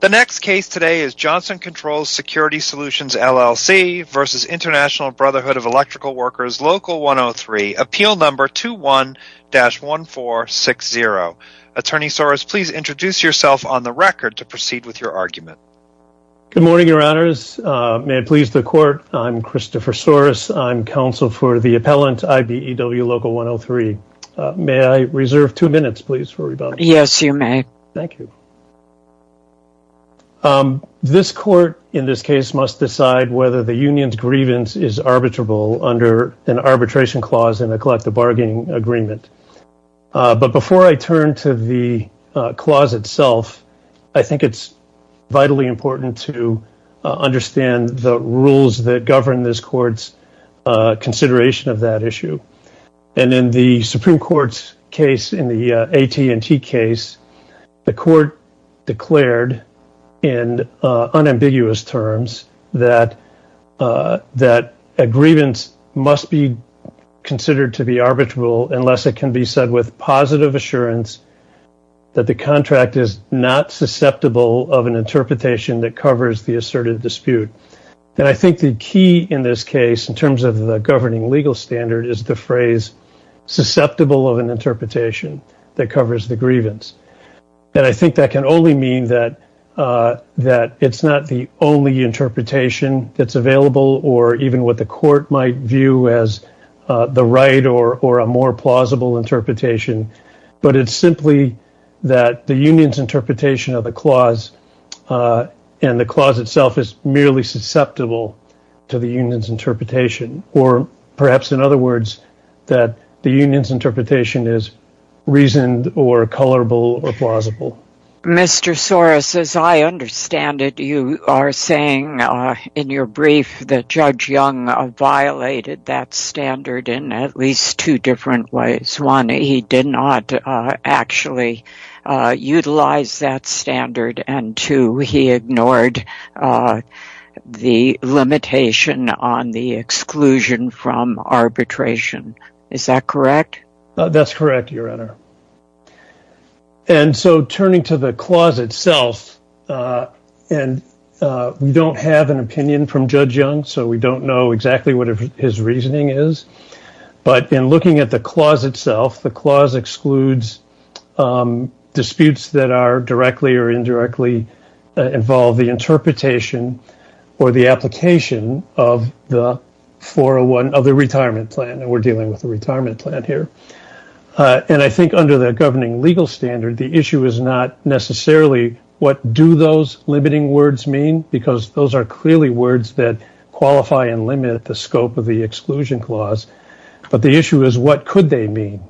The next case today is Johnson Controls Security Solutions, LLC v. Int'l Brotherhood of Electrical Workers, Local 103, appeal number 21-1460. Attorney Soros, please introduce yourself on the record to proceed with your argument. Good morning, your honors. May it please the court, I'm Christopher Soros. I'm counsel for the appellant, IBEW Local 103. May I reserve two minutes, please, for rebuttal? Yes, you may. Thank you. This court, in this case, must decide whether the union's grievance is arbitrable under an arbitration clause in a collective bargaining agreement. But before I turn to the clause itself, I think it's vitally important to understand the rules that govern this court's consideration of that issue. And in the Supreme Court's case, in the AT&T case, the court declared in unambiguous terms that a grievance must be considered to be arbitrable unless it can be said with positive assurance that the contract is not susceptible of an interpretation that legal standard is the phrase susceptible of an interpretation that covers the grievance. And I think that can only mean that it's not the only interpretation that's available, or even what the court might view as the right or a more plausible interpretation. But it's simply that the union's interpretation of the clause and the clause itself is merely susceptible to the union's interpretation. Or perhaps, in other words, that the union's interpretation is reasoned or colorable or plausible. Mr. Soros, as I understand it, you are saying in your brief that Judge Young violated that standard in at least two different ways. One, he did not actually utilize that standard. And two, he ignored the limitation on the exclusion from arbitration. Is that correct? That's correct, Your Honor. And so turning to the clause itself, we don't have an opinion from Judge Young, so we don't know exactly what his reasoning is. But in looking at the clause itself, the clause excludes disputes that are directly or indirectly involve the interpretation or the application of the 401, of the retirement plan. And we're dealing with the retirement plan here. And I think under the governing legal standard, the issue is not necessarily what do those limiting words mean, because those are clearly words that qualify and limit the scope of the exclusion clause. But the issue is what could they mean.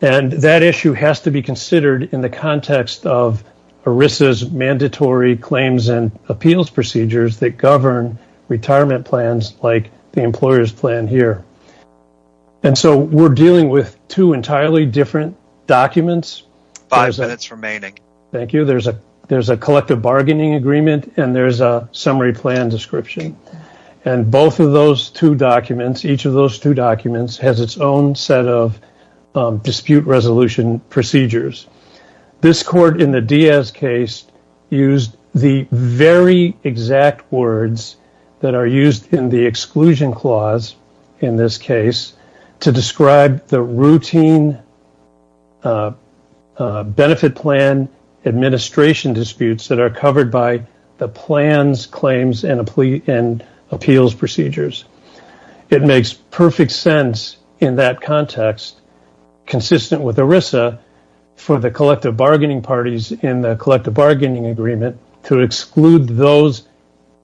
And that issue has to be considered in the context of ERISA's mandatory claims and appeals procedures that govern retirement plans like the employer's plan here. And so we're dealing with two entirely different documents. Five minutes remaining. Thank you. There's a collective bargaining agreement and there's a summary plan description. And both of those two documents, each of those two documents has its own set of dispute resolution procedures. This court in the Diaz case used the very exact words that are used in the exclusion clause in this case to describe the routine benefit plan administration disputes that are covered by the plans, claims and appeals procedures. It makes perfect sense in that context, consistent with ERISA for the collective bargaining parties in the collective bargaining agreement to exclude those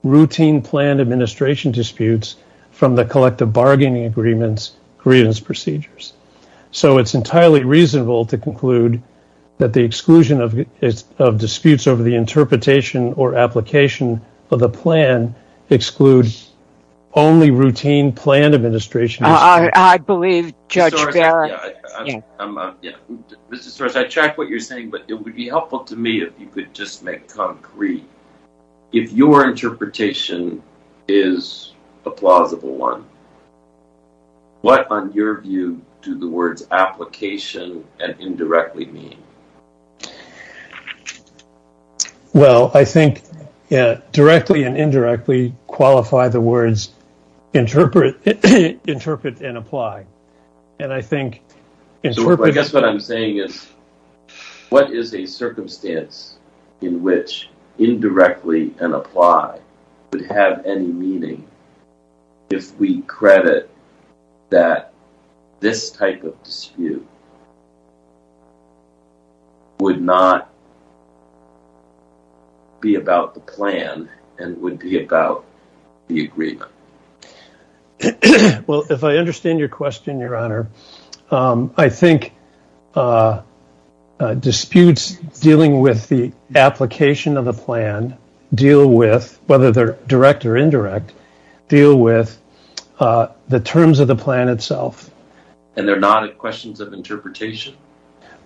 routine plan administration disputes from the collective bargaining agreements, grievance procedures. So it's entirely reasonable to conclude that the exclusion of disputes over the interpretation or application of the plan excludes only routine plan administration. I believe Judge Barrett. Mr. Soros, I check what you're saying, but it concrete. If your interpretation is a plausible one. What, on your view, do the words application and indirectly mean? Well, I think directly and indirectly qualify the words interpret, interpret and apply. And I think. So I guess what I'm saying is what is a circumstance in which indirectly and apply would have any meaning if we credit that this type of dispute. Would not. Be about the plan and would be about the agreement. Well, if I understand your question, your honor, I think. Disputes dealing with the application of the plan deal with whether they're direct or indirect deal with the terms of the plan itself. And they're not questions of interpretation.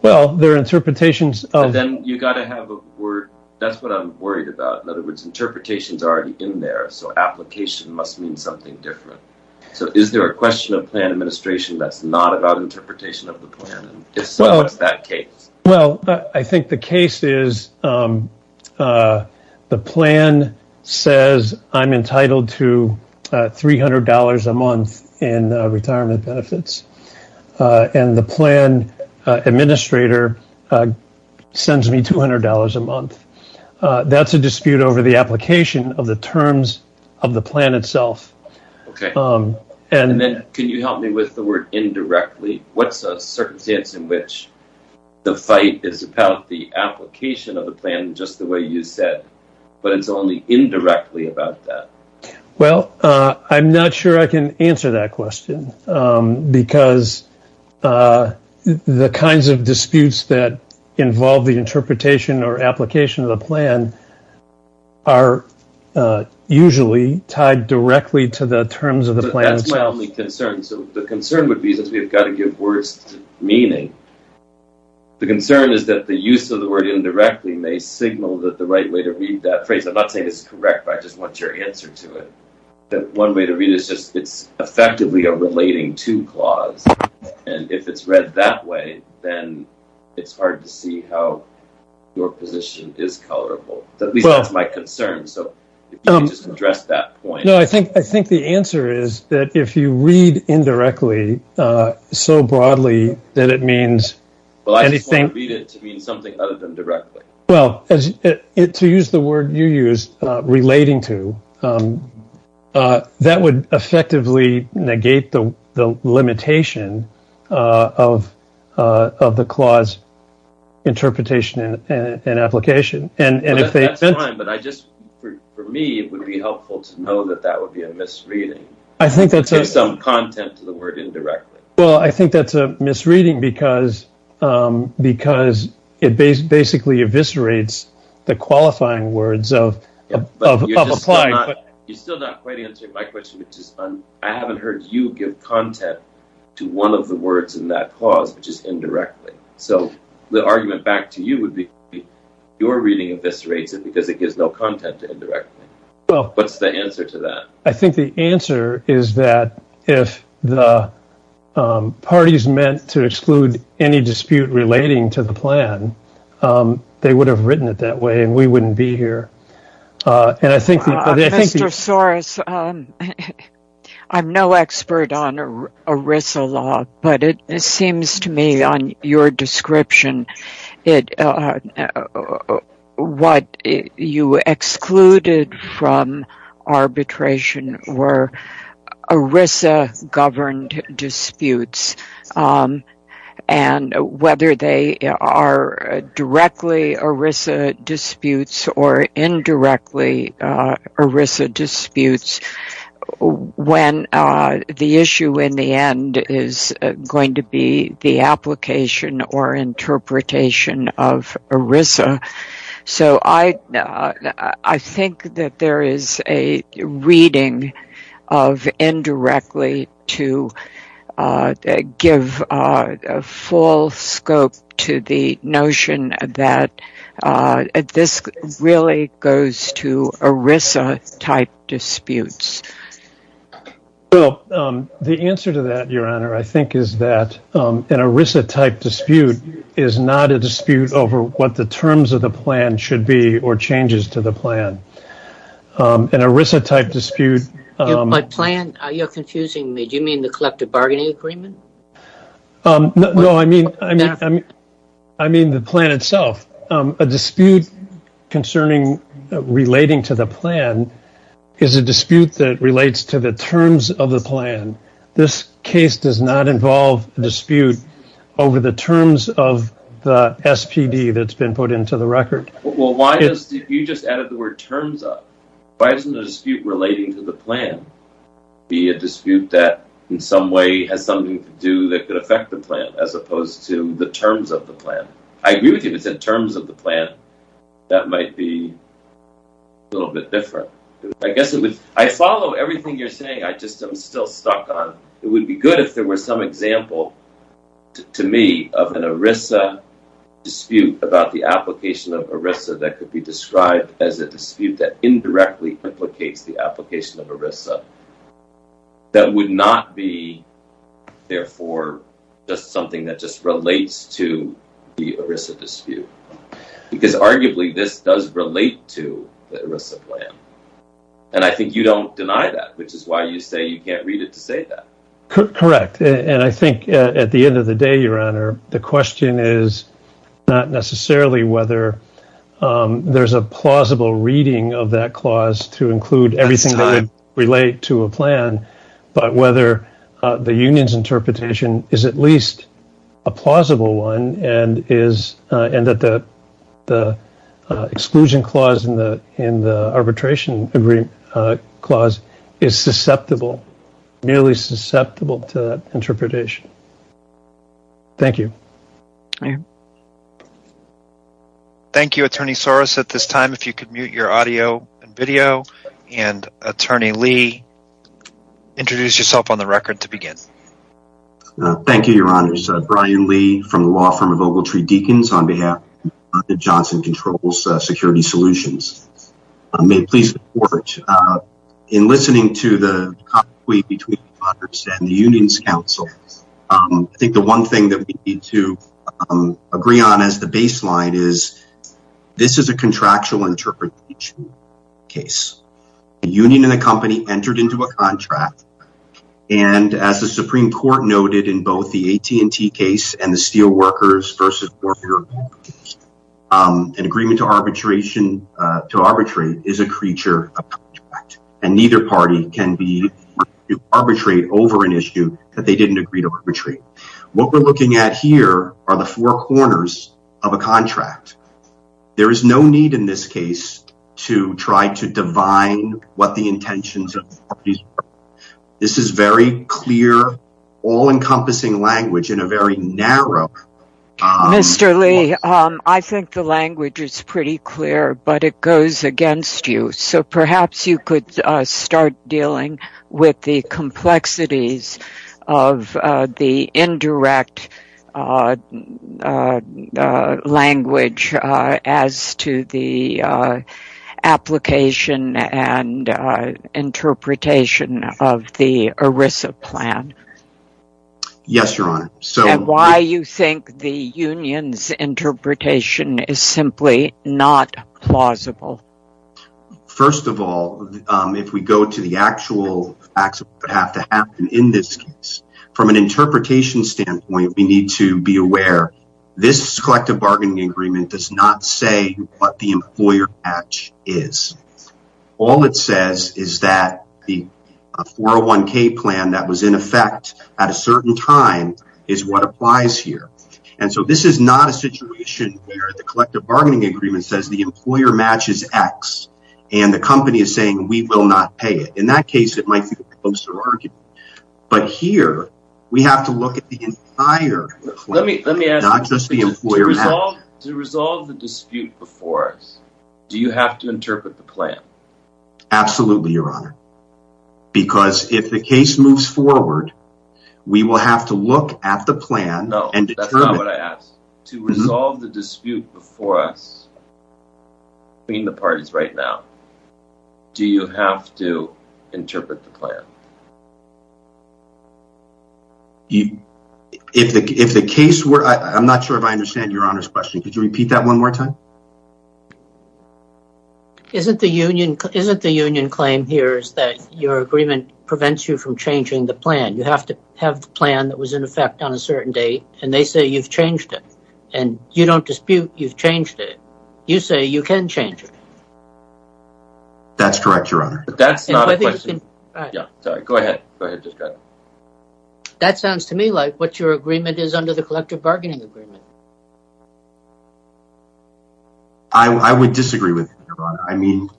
Well, their interpretations of them. You got to have a word. That's what I'm worried about. Interpretations already in there, so application must mean something different. So is there a question of plan administration that's not about interpretation of the plan? Well, I think the case is. The plan says I'm entitled to $300 a month in retirement benefits and the plan administrator sends me $200 a month. That's a dispute over the application of the terms of the plan itself. And then can you help me with the word indirectly? What's a circumstance in which the fight is about the application of the plan? Just the way you said, but it's only indirectly about that. Well, I'm not sure I can answer that question because the kinds of disputes that involve the interpretation or application of the plan are usually tied directly to the terms of the plan. That's my only concern. So the concern would be that we've got to give words meaning. The concern is that the use of the word indirectly may signal that the right way to read that phrase. I'm not saying it's correct. I just want your answer to it. One way to read it is just, it's effectively a relating to clause. And if it's read that way, then it's hard to see how your position is colorable. At least that's my concern. So if you could just address that point. No, I think the answer is that if you read indirectly so broadly that it means anything- Well, I just want to read it to mean something other than directly. Well, to use the word you used, relating to, that would effectively negate the limitation of the clause interpretation and application. But I just, for me, it would be helpful to know that that would be a misreading. I think that's- Give some content to the word indirectly. Well, I think that's a misreading because it basically eviscerates the qualifying words of applied- You're still not quite answering my question, which is I haven't heard you give content to one of the words in that clause, which is indirectly. So the argument back to you would be your reading eviscerates it because it gives no content to indirectly. What's the answer to that? I think the answer is that if the party is meant to exclude any dispute relating to the plan, they would have written it that way and we wouldn't be here. And I think- Mr. Soros, I'm no expert on ERISA law, but it seems to me on your description, that what you excluded from arbitration were ERISA-governed disputes. And whether they are directly ERISA disputes or indirectly ERISA disputes, when the issue in the end is going to be the application or interpretation of ERISA. So I think that there is a reading of indirectly to give full scope to the notion that this really goes to ERISA-type disputes. Well, the answer to that, Your Honor, I think is that an ERISA-type dispute is not a dispute over what the terms of the plan should be or changes to the plan. An ERISA-type dispute- By plan, you're confusing me. Do you mean the collective bargaining agreement? No, I mean the plan itself. A dispute concerning relating to the plan is a dispute that relates to the terms of the plan. This case does not involve a dispute over the terms of the SPD that's been put into the record. Well, if you just added the word terms up, why doesn't the dispute relating to the plan be a dispute that in some way has something to do that could affect the plan as opposed to the terms of the plan? I agree with you if it's in terms of the plan, that might be a little bit different. I guess it would- I follow everything you're saying, I just am still stuck on. It would be good if there were some example to me of an ERISA dispute about the application of ERISA that could be described as a dispute that indirectly implicates the application of ERISA that would not be, therefore, just something that just relates to the ERISA dispute, because arguably this does relate to the ERISA plan. And I think you don't deny that, which is why you say you can't read it to say that. Correct. And I think at the end of the day, the question is not necessarily whether there's a plausible reading of that clause to include everything that would relate to a plan, but whether the union's interpretation is at least a plausible one and that the exclusion clause in the arbitration agreement clause is susceptible, nearly susceptible to interpretation. Thank you. Thank you, Attorney Soros. At this time, if you could mute your audio and video, and Attorney Lee, introduce yourself on the record to begin. Thank you, Your Honors. Brian Lee from the law firm of Ogletree Deakins on behalf of Johnson Controls Security Solutions. May it please the Court, in listening to the conflict between Congress and the Union's counsel, I think the one thing that we need to agree on as the baseline is this is a contractual interpretation case. The union and the company entered into a contract, and as the Supreme Court noted in both the AT&T case and the Steel Workers v. Warner case, an agreement to arbitrate is a creature of a contract, and neither party can be to arbitrate over an issue that they didn't agree to arbitrate. What we're looking at here are the four corners of a contract. There is no need in this case to try to divine what the Mr. Lee, I think the language is pretty clear, but it goes against you, so perhaps you could start dealing with the complexities of the indirect language as to the application and interpretation of the ERISA plan. Yes, Your Honor. And why do you think the union's interpretation is simply not plausible? First of all, if we go to the actual facts that have to happen in this case, from an interpretation standpoint, we need to be aware this collective bargaining agreement does not say what the certain time is what applies here, and so this is not a situation where the collective bargaining agreement says the employer matches X, and the company is saying we will not pay it. In that case, it might be a closer argument, but here we have to look at the entire plan, not just the employer. To resolve the dispute before us, do you have to interpret the plan? Absolutely, Your Honor, because if the case moves forward, we will have to look at the plan. No, that's not what I asked. To resolve the dispute before us, between the parties right now, do you have to interpret the plan? If the case were, I'm not sure if I understand Your Honor's question. Could you say your agreement prevents you from changing the plan? You have to have the plan that was in effect on a certain date, and they say you've changed it, and you don't dispute you've changed it. You say you can change it. That's correct, Your Honor. That sounds to me like what your agreement is under the collective bargaining agreement. I would disagree with you, Your Honor.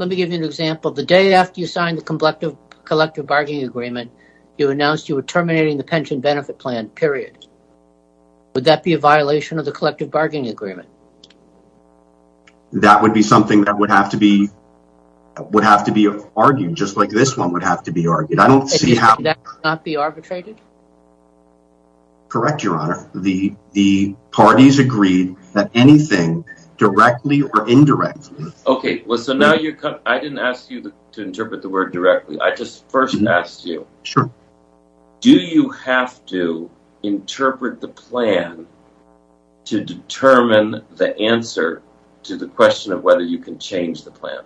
Let me give you an example. The day after you signed the collective bargaining agreement, you announced you were terminating the pension benefit plan, period. Would that be a violation of the collective bargaining agreement? That would be something that would have to be argued, just like this one would have to be directly or indirectly. I didn't ask you to interpret the word directly. I just first asked you, do you have to interpret the plan to determine the answer to the question of whether you can change the plan?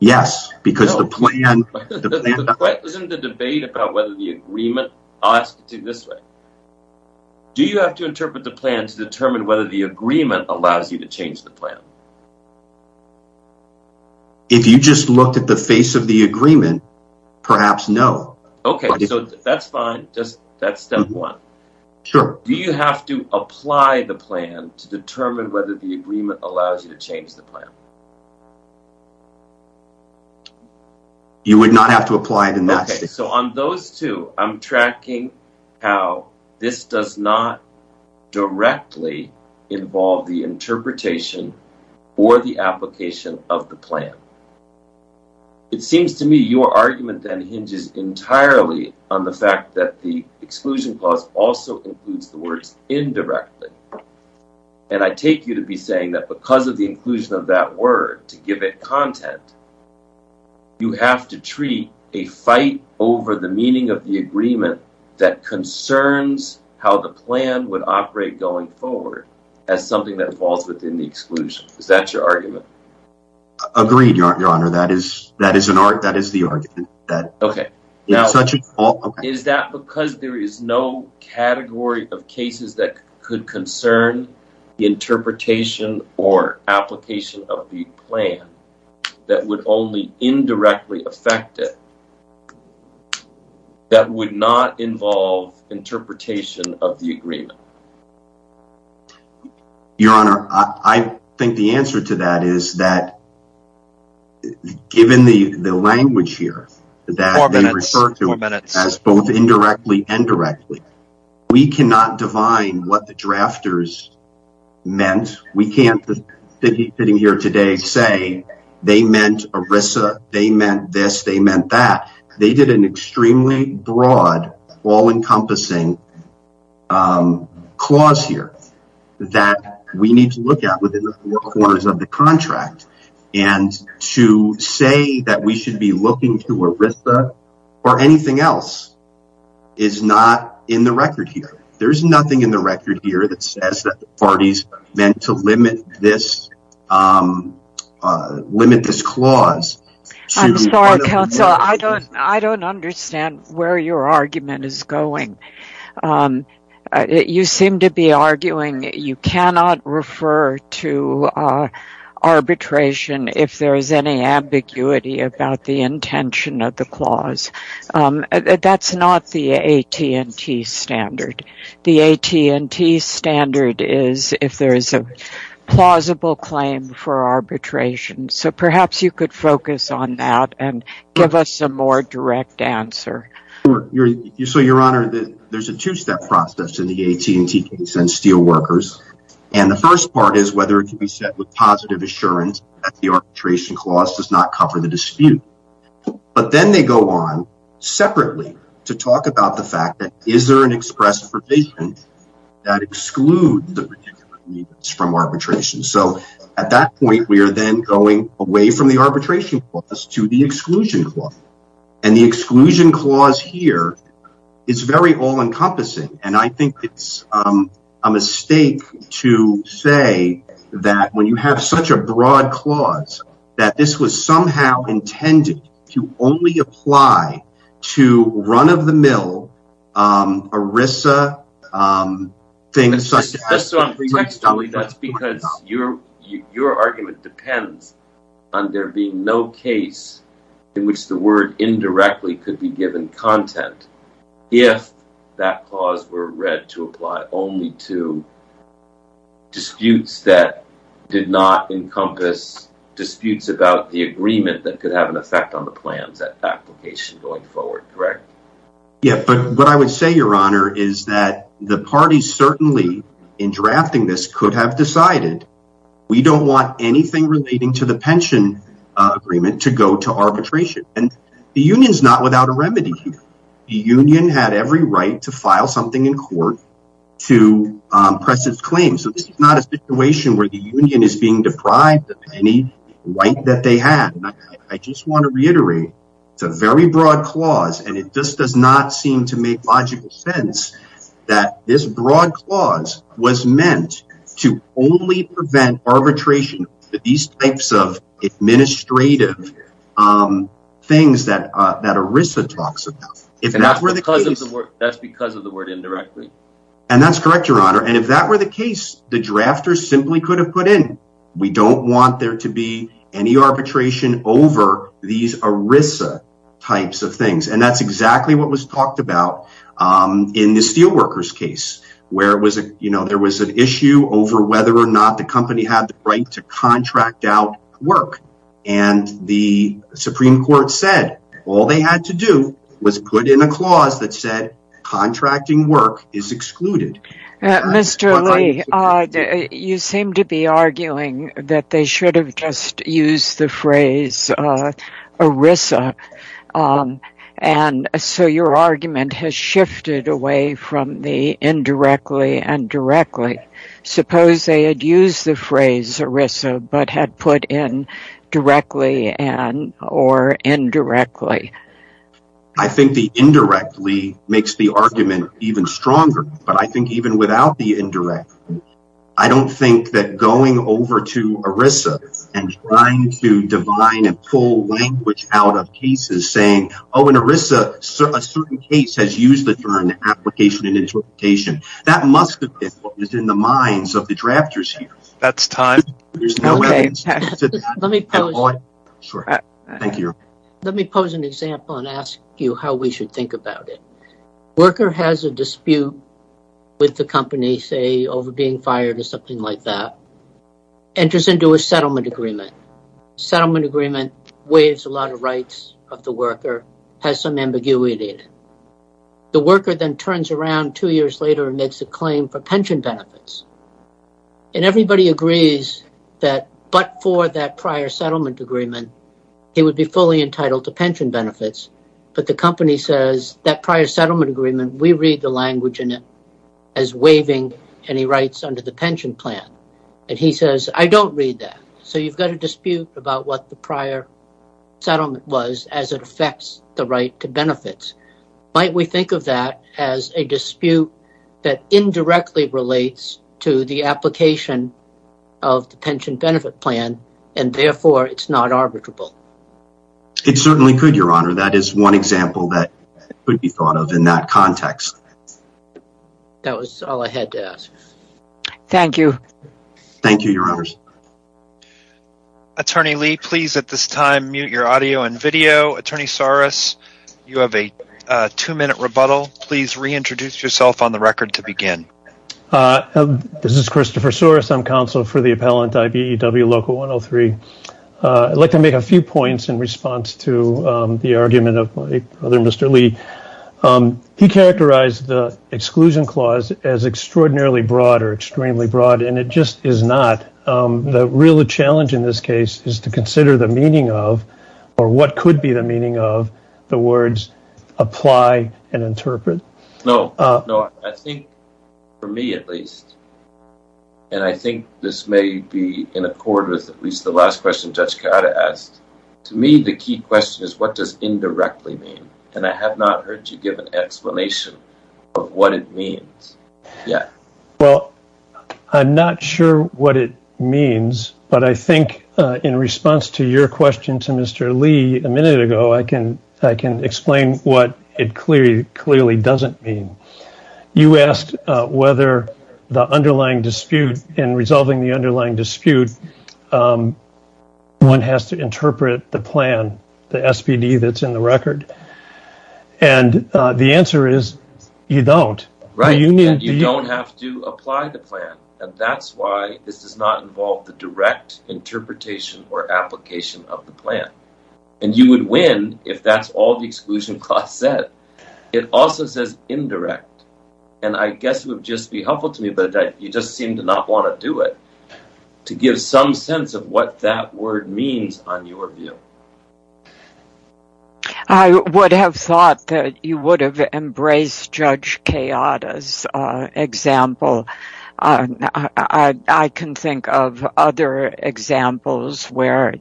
Yes, because the plan... Isn't the debate about whether the agreement... I'll allow you to change the plan. If you just looked at the face of the agreement, perhaps no. Okay, so that's fine. That's step one. Sure. Do you have to apply the plan to determine whether the agreement allows you to change the plan? You would not have to apply it in that case. On those two, I'm tracking how this does not directly involve the interpretation or the application of the plan. It seems to me your argument then hinges entirely on the fact that the exclusion clause also includes the words indirectly. I take you to be saying that because of the inclusion of that word to give it content, you have to treat a fight over the meaning of the agreement that concerns how the plan would operate going forward as something that falls within the exclusion. Is that your argument? Agreed, your honor. That is the argument. Is that because there is no category of cases that could concern the interpretation or application of the plan that would only indirectly affect it, that would not involve interpretation of the agreement? Your honor, I think the answer to that is that given the language here that they refer to as indirectly and directly, we cannot define what the drafters meant. We can't, sitting here today, say they meant ERISA, they meant this, they meant that. They did an extremely broad, all-encompassing clause here that we need to look at within the four corners of the contract and to say that we should be looking to ERISA or anything else is not in the record here. There is nothing in the record here that says that the parties meant to limit this clause. I don't understand where your argument is going. You seem to be arguing you cannot refer to arbitration if there is any ambiguity about the intention of the clause. That's not the AT&T standard. The AT&T standard is if there is a plausible claim for arbitration, so perhaps you could focus on that and give us a more direct answer. So, your honor, there's a two-step process in the AT&T case and Steelworkers, and the first part is whether it can be set with positive assurance that the arbitration clause does not cover the dispute, but then they go on separately to talk about the fact that, is there an express provision that excludes the particulars from arbitration? So, at that point, we are then going away from the arbitration clause to the exclusion clause, and the exclusion clause here is very all-encompassing, and I think it's a mistake to say that when you have such a broad clause that this was somehow intended to only apply to run-of-the-mill ERISA things. That's because your argument depends on there being no case in which the word indirectly could be given content if that clause were read to apply only to disputes that did not encompass disputes about the agreement that could have an effect on the plans that application going forward, correct? Yeah, but what I would say, your honor, is that the parties certainly in drafting this could have decided we don't want anything relating to the pension agreement to arbitration, and the union's not without a remedy. The union had every right to file something in court to press its claim, so this is not a situation where the union is being deprived of any right that they had. I just want to reiterate, it's a very broad clause, and it just does not seem to make logical sense that this broad clause was meant to only prevent arbitration for these types of administrative things that ERISA talks about. That's because of the word indirectly. And that's correct, your honor, and if that were the case, the drafters simply could have put in we don't want there to be any arbitration over these ERISA types of things, and that's exactly what was talked about in the steelworkers case where there was an issue over whether or not the company had the right to contract out work, and the supreme court said all they had to do was put in a clause that said contracting work is excluded. Mr. Lee, you seem to be arguing that they should have just used the phrase ERISA, and so your argument has shifted away from the ERISA, but had put in directly and or indirectly. I think the indirectly makes the argument even stronger, but I think even without the indirect, I don't think that going over to ERISA and trying to divine and pull language out of cases saying, oh in ERISA, a certain case has used the term application and interpretation. That must have been what was in the minds of the drafters here. That's time. Let me pose an example and ask you how we should think about it. Worker has a dispute with the company, say over being fired or something like that, enters into a settlement agreement. Settlement agreement waives a lot of rights of the worker, has some ambiguity in it. The worker then turns around two years later and makes a claim for pension benefits, and everybody agrees that but for that prior settlement agreement, he would be fully entitled to pension benefits, but the company says that prior settlement agreement, we read the language in it as waiving any rights under the pension plan, and he says I don't read that. So you've got a dispute about what the prior settlement was as it affects the right to benefits. Might we think of that as a dispute that indirectly relates to the application of the pension benefit plan, and therefore it's not arbitrable? It certainly could, your honor. That is one example that could be thought of in that context. That was all I had to ask. Thank you. Thank you, your honors. Attorney Lee, please at this time mute your audio and video. Attorney Soros, you have a two-minute rebuttal. Please reintroduce yourself on the record to begin. This is Christopher Soros. I'm counsel for the appellant IBEW Local 103. I'd like to make a few points in response to the argument of my brother, Mr. Lee. He characterized the exclusion clause as extraordinarily broad or extremely broad, and it just is not. The real challenge in this case is to consider the meaning of, or what could be the meaning of, the words apply and interpret. No, no. I think, for me at least, and I think this may be in accord with at least the last question Judge Carotta asked, to me the key question is what does indirectly mean, and I have not heard you give an explanation of what it means yet. Well, I'm not sure what it means, but I think in response to your question to Mr. Lee a minute ago, I can explain what it clearly doesn't mean. You asked whether in resolving the underlying dispute one has to interpret the plan, the SPD that's in the record, and the answer is you don't. You don't have to apply the plan, and that's why this does not involve the direct interpretation or application of the plan, and you would win if that's all the exclusion clause said. It also says indirect, and I guess it would just be helpful to me that you just seem to not want to do it, to give some sense of what that word means on your view. I would have thought that you would have embraced Judge Carotta's example. I can think of other examples where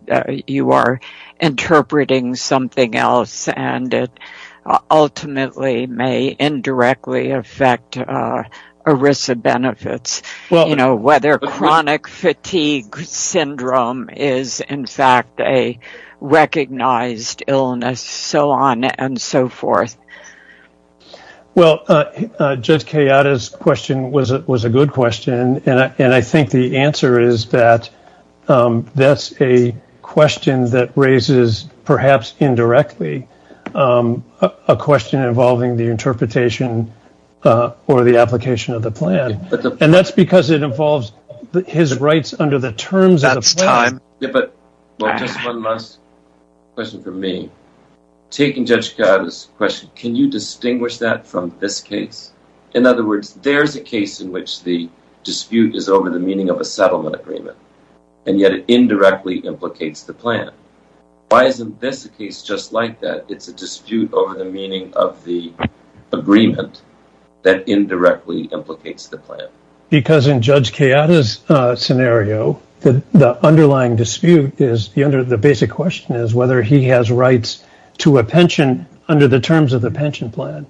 you are interpreting something else, and it ultimately may indirectly affect ERISA benefits, whether chronic fatigue syndrome is in fact a recognized illness, so on and so forth. Well, Judge Carotta's question was a good question, and I think the answer is that that's a question that raises perhaps indirectly a question involving the interpretation or the application of the plan, and that's because it involves his rights under the terms. That's time, but just one last question for me. Taking Judge Carotta's question, can you distinguish that from this case? In other words, there's a case in which the dispute is over the meaning of a settlement agreement, and yet it indirectly implicates the plan. Why isn't this case just like that? It's a dispute over the meaning of the agreement that indirectly implicates the plan. Because in Judge Carotta's scenario, the underlying dispute is, the basic question is whether he has rights to a pension under the terms of the pension plan.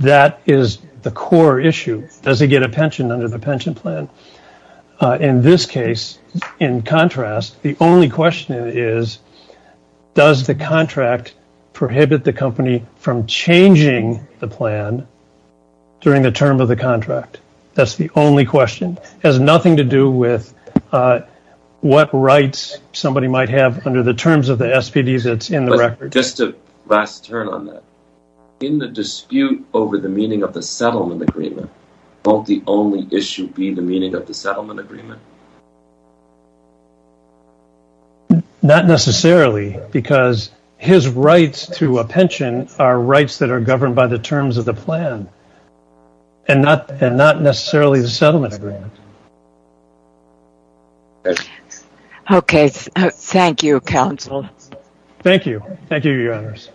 That is the core issue. Does he get a pension under the pension plan? In this case, in contrast, the only question is, does the contract prohibit the company from changing the plan during the term of the contract? That's the only question. It has nothing to do with what rights somebody might have under the terms of the SPDs that's in the record. Just a last turn on that. In the dispute over the meaning of the settlement agreement, won't the only issue be the meaning of the settlement agreement? Not necessarily, because his rights to a pension are rights that are governed by the terms of the plan, and not necessarily the settlement agreement. Okay. Thank you, counsel. Thank you. Thank you, Your Honors.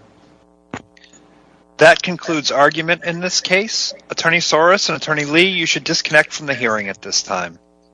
That concludes argument in this case. Attorney Soros and Attorney Lee, you should disconnect from the hearing at this time.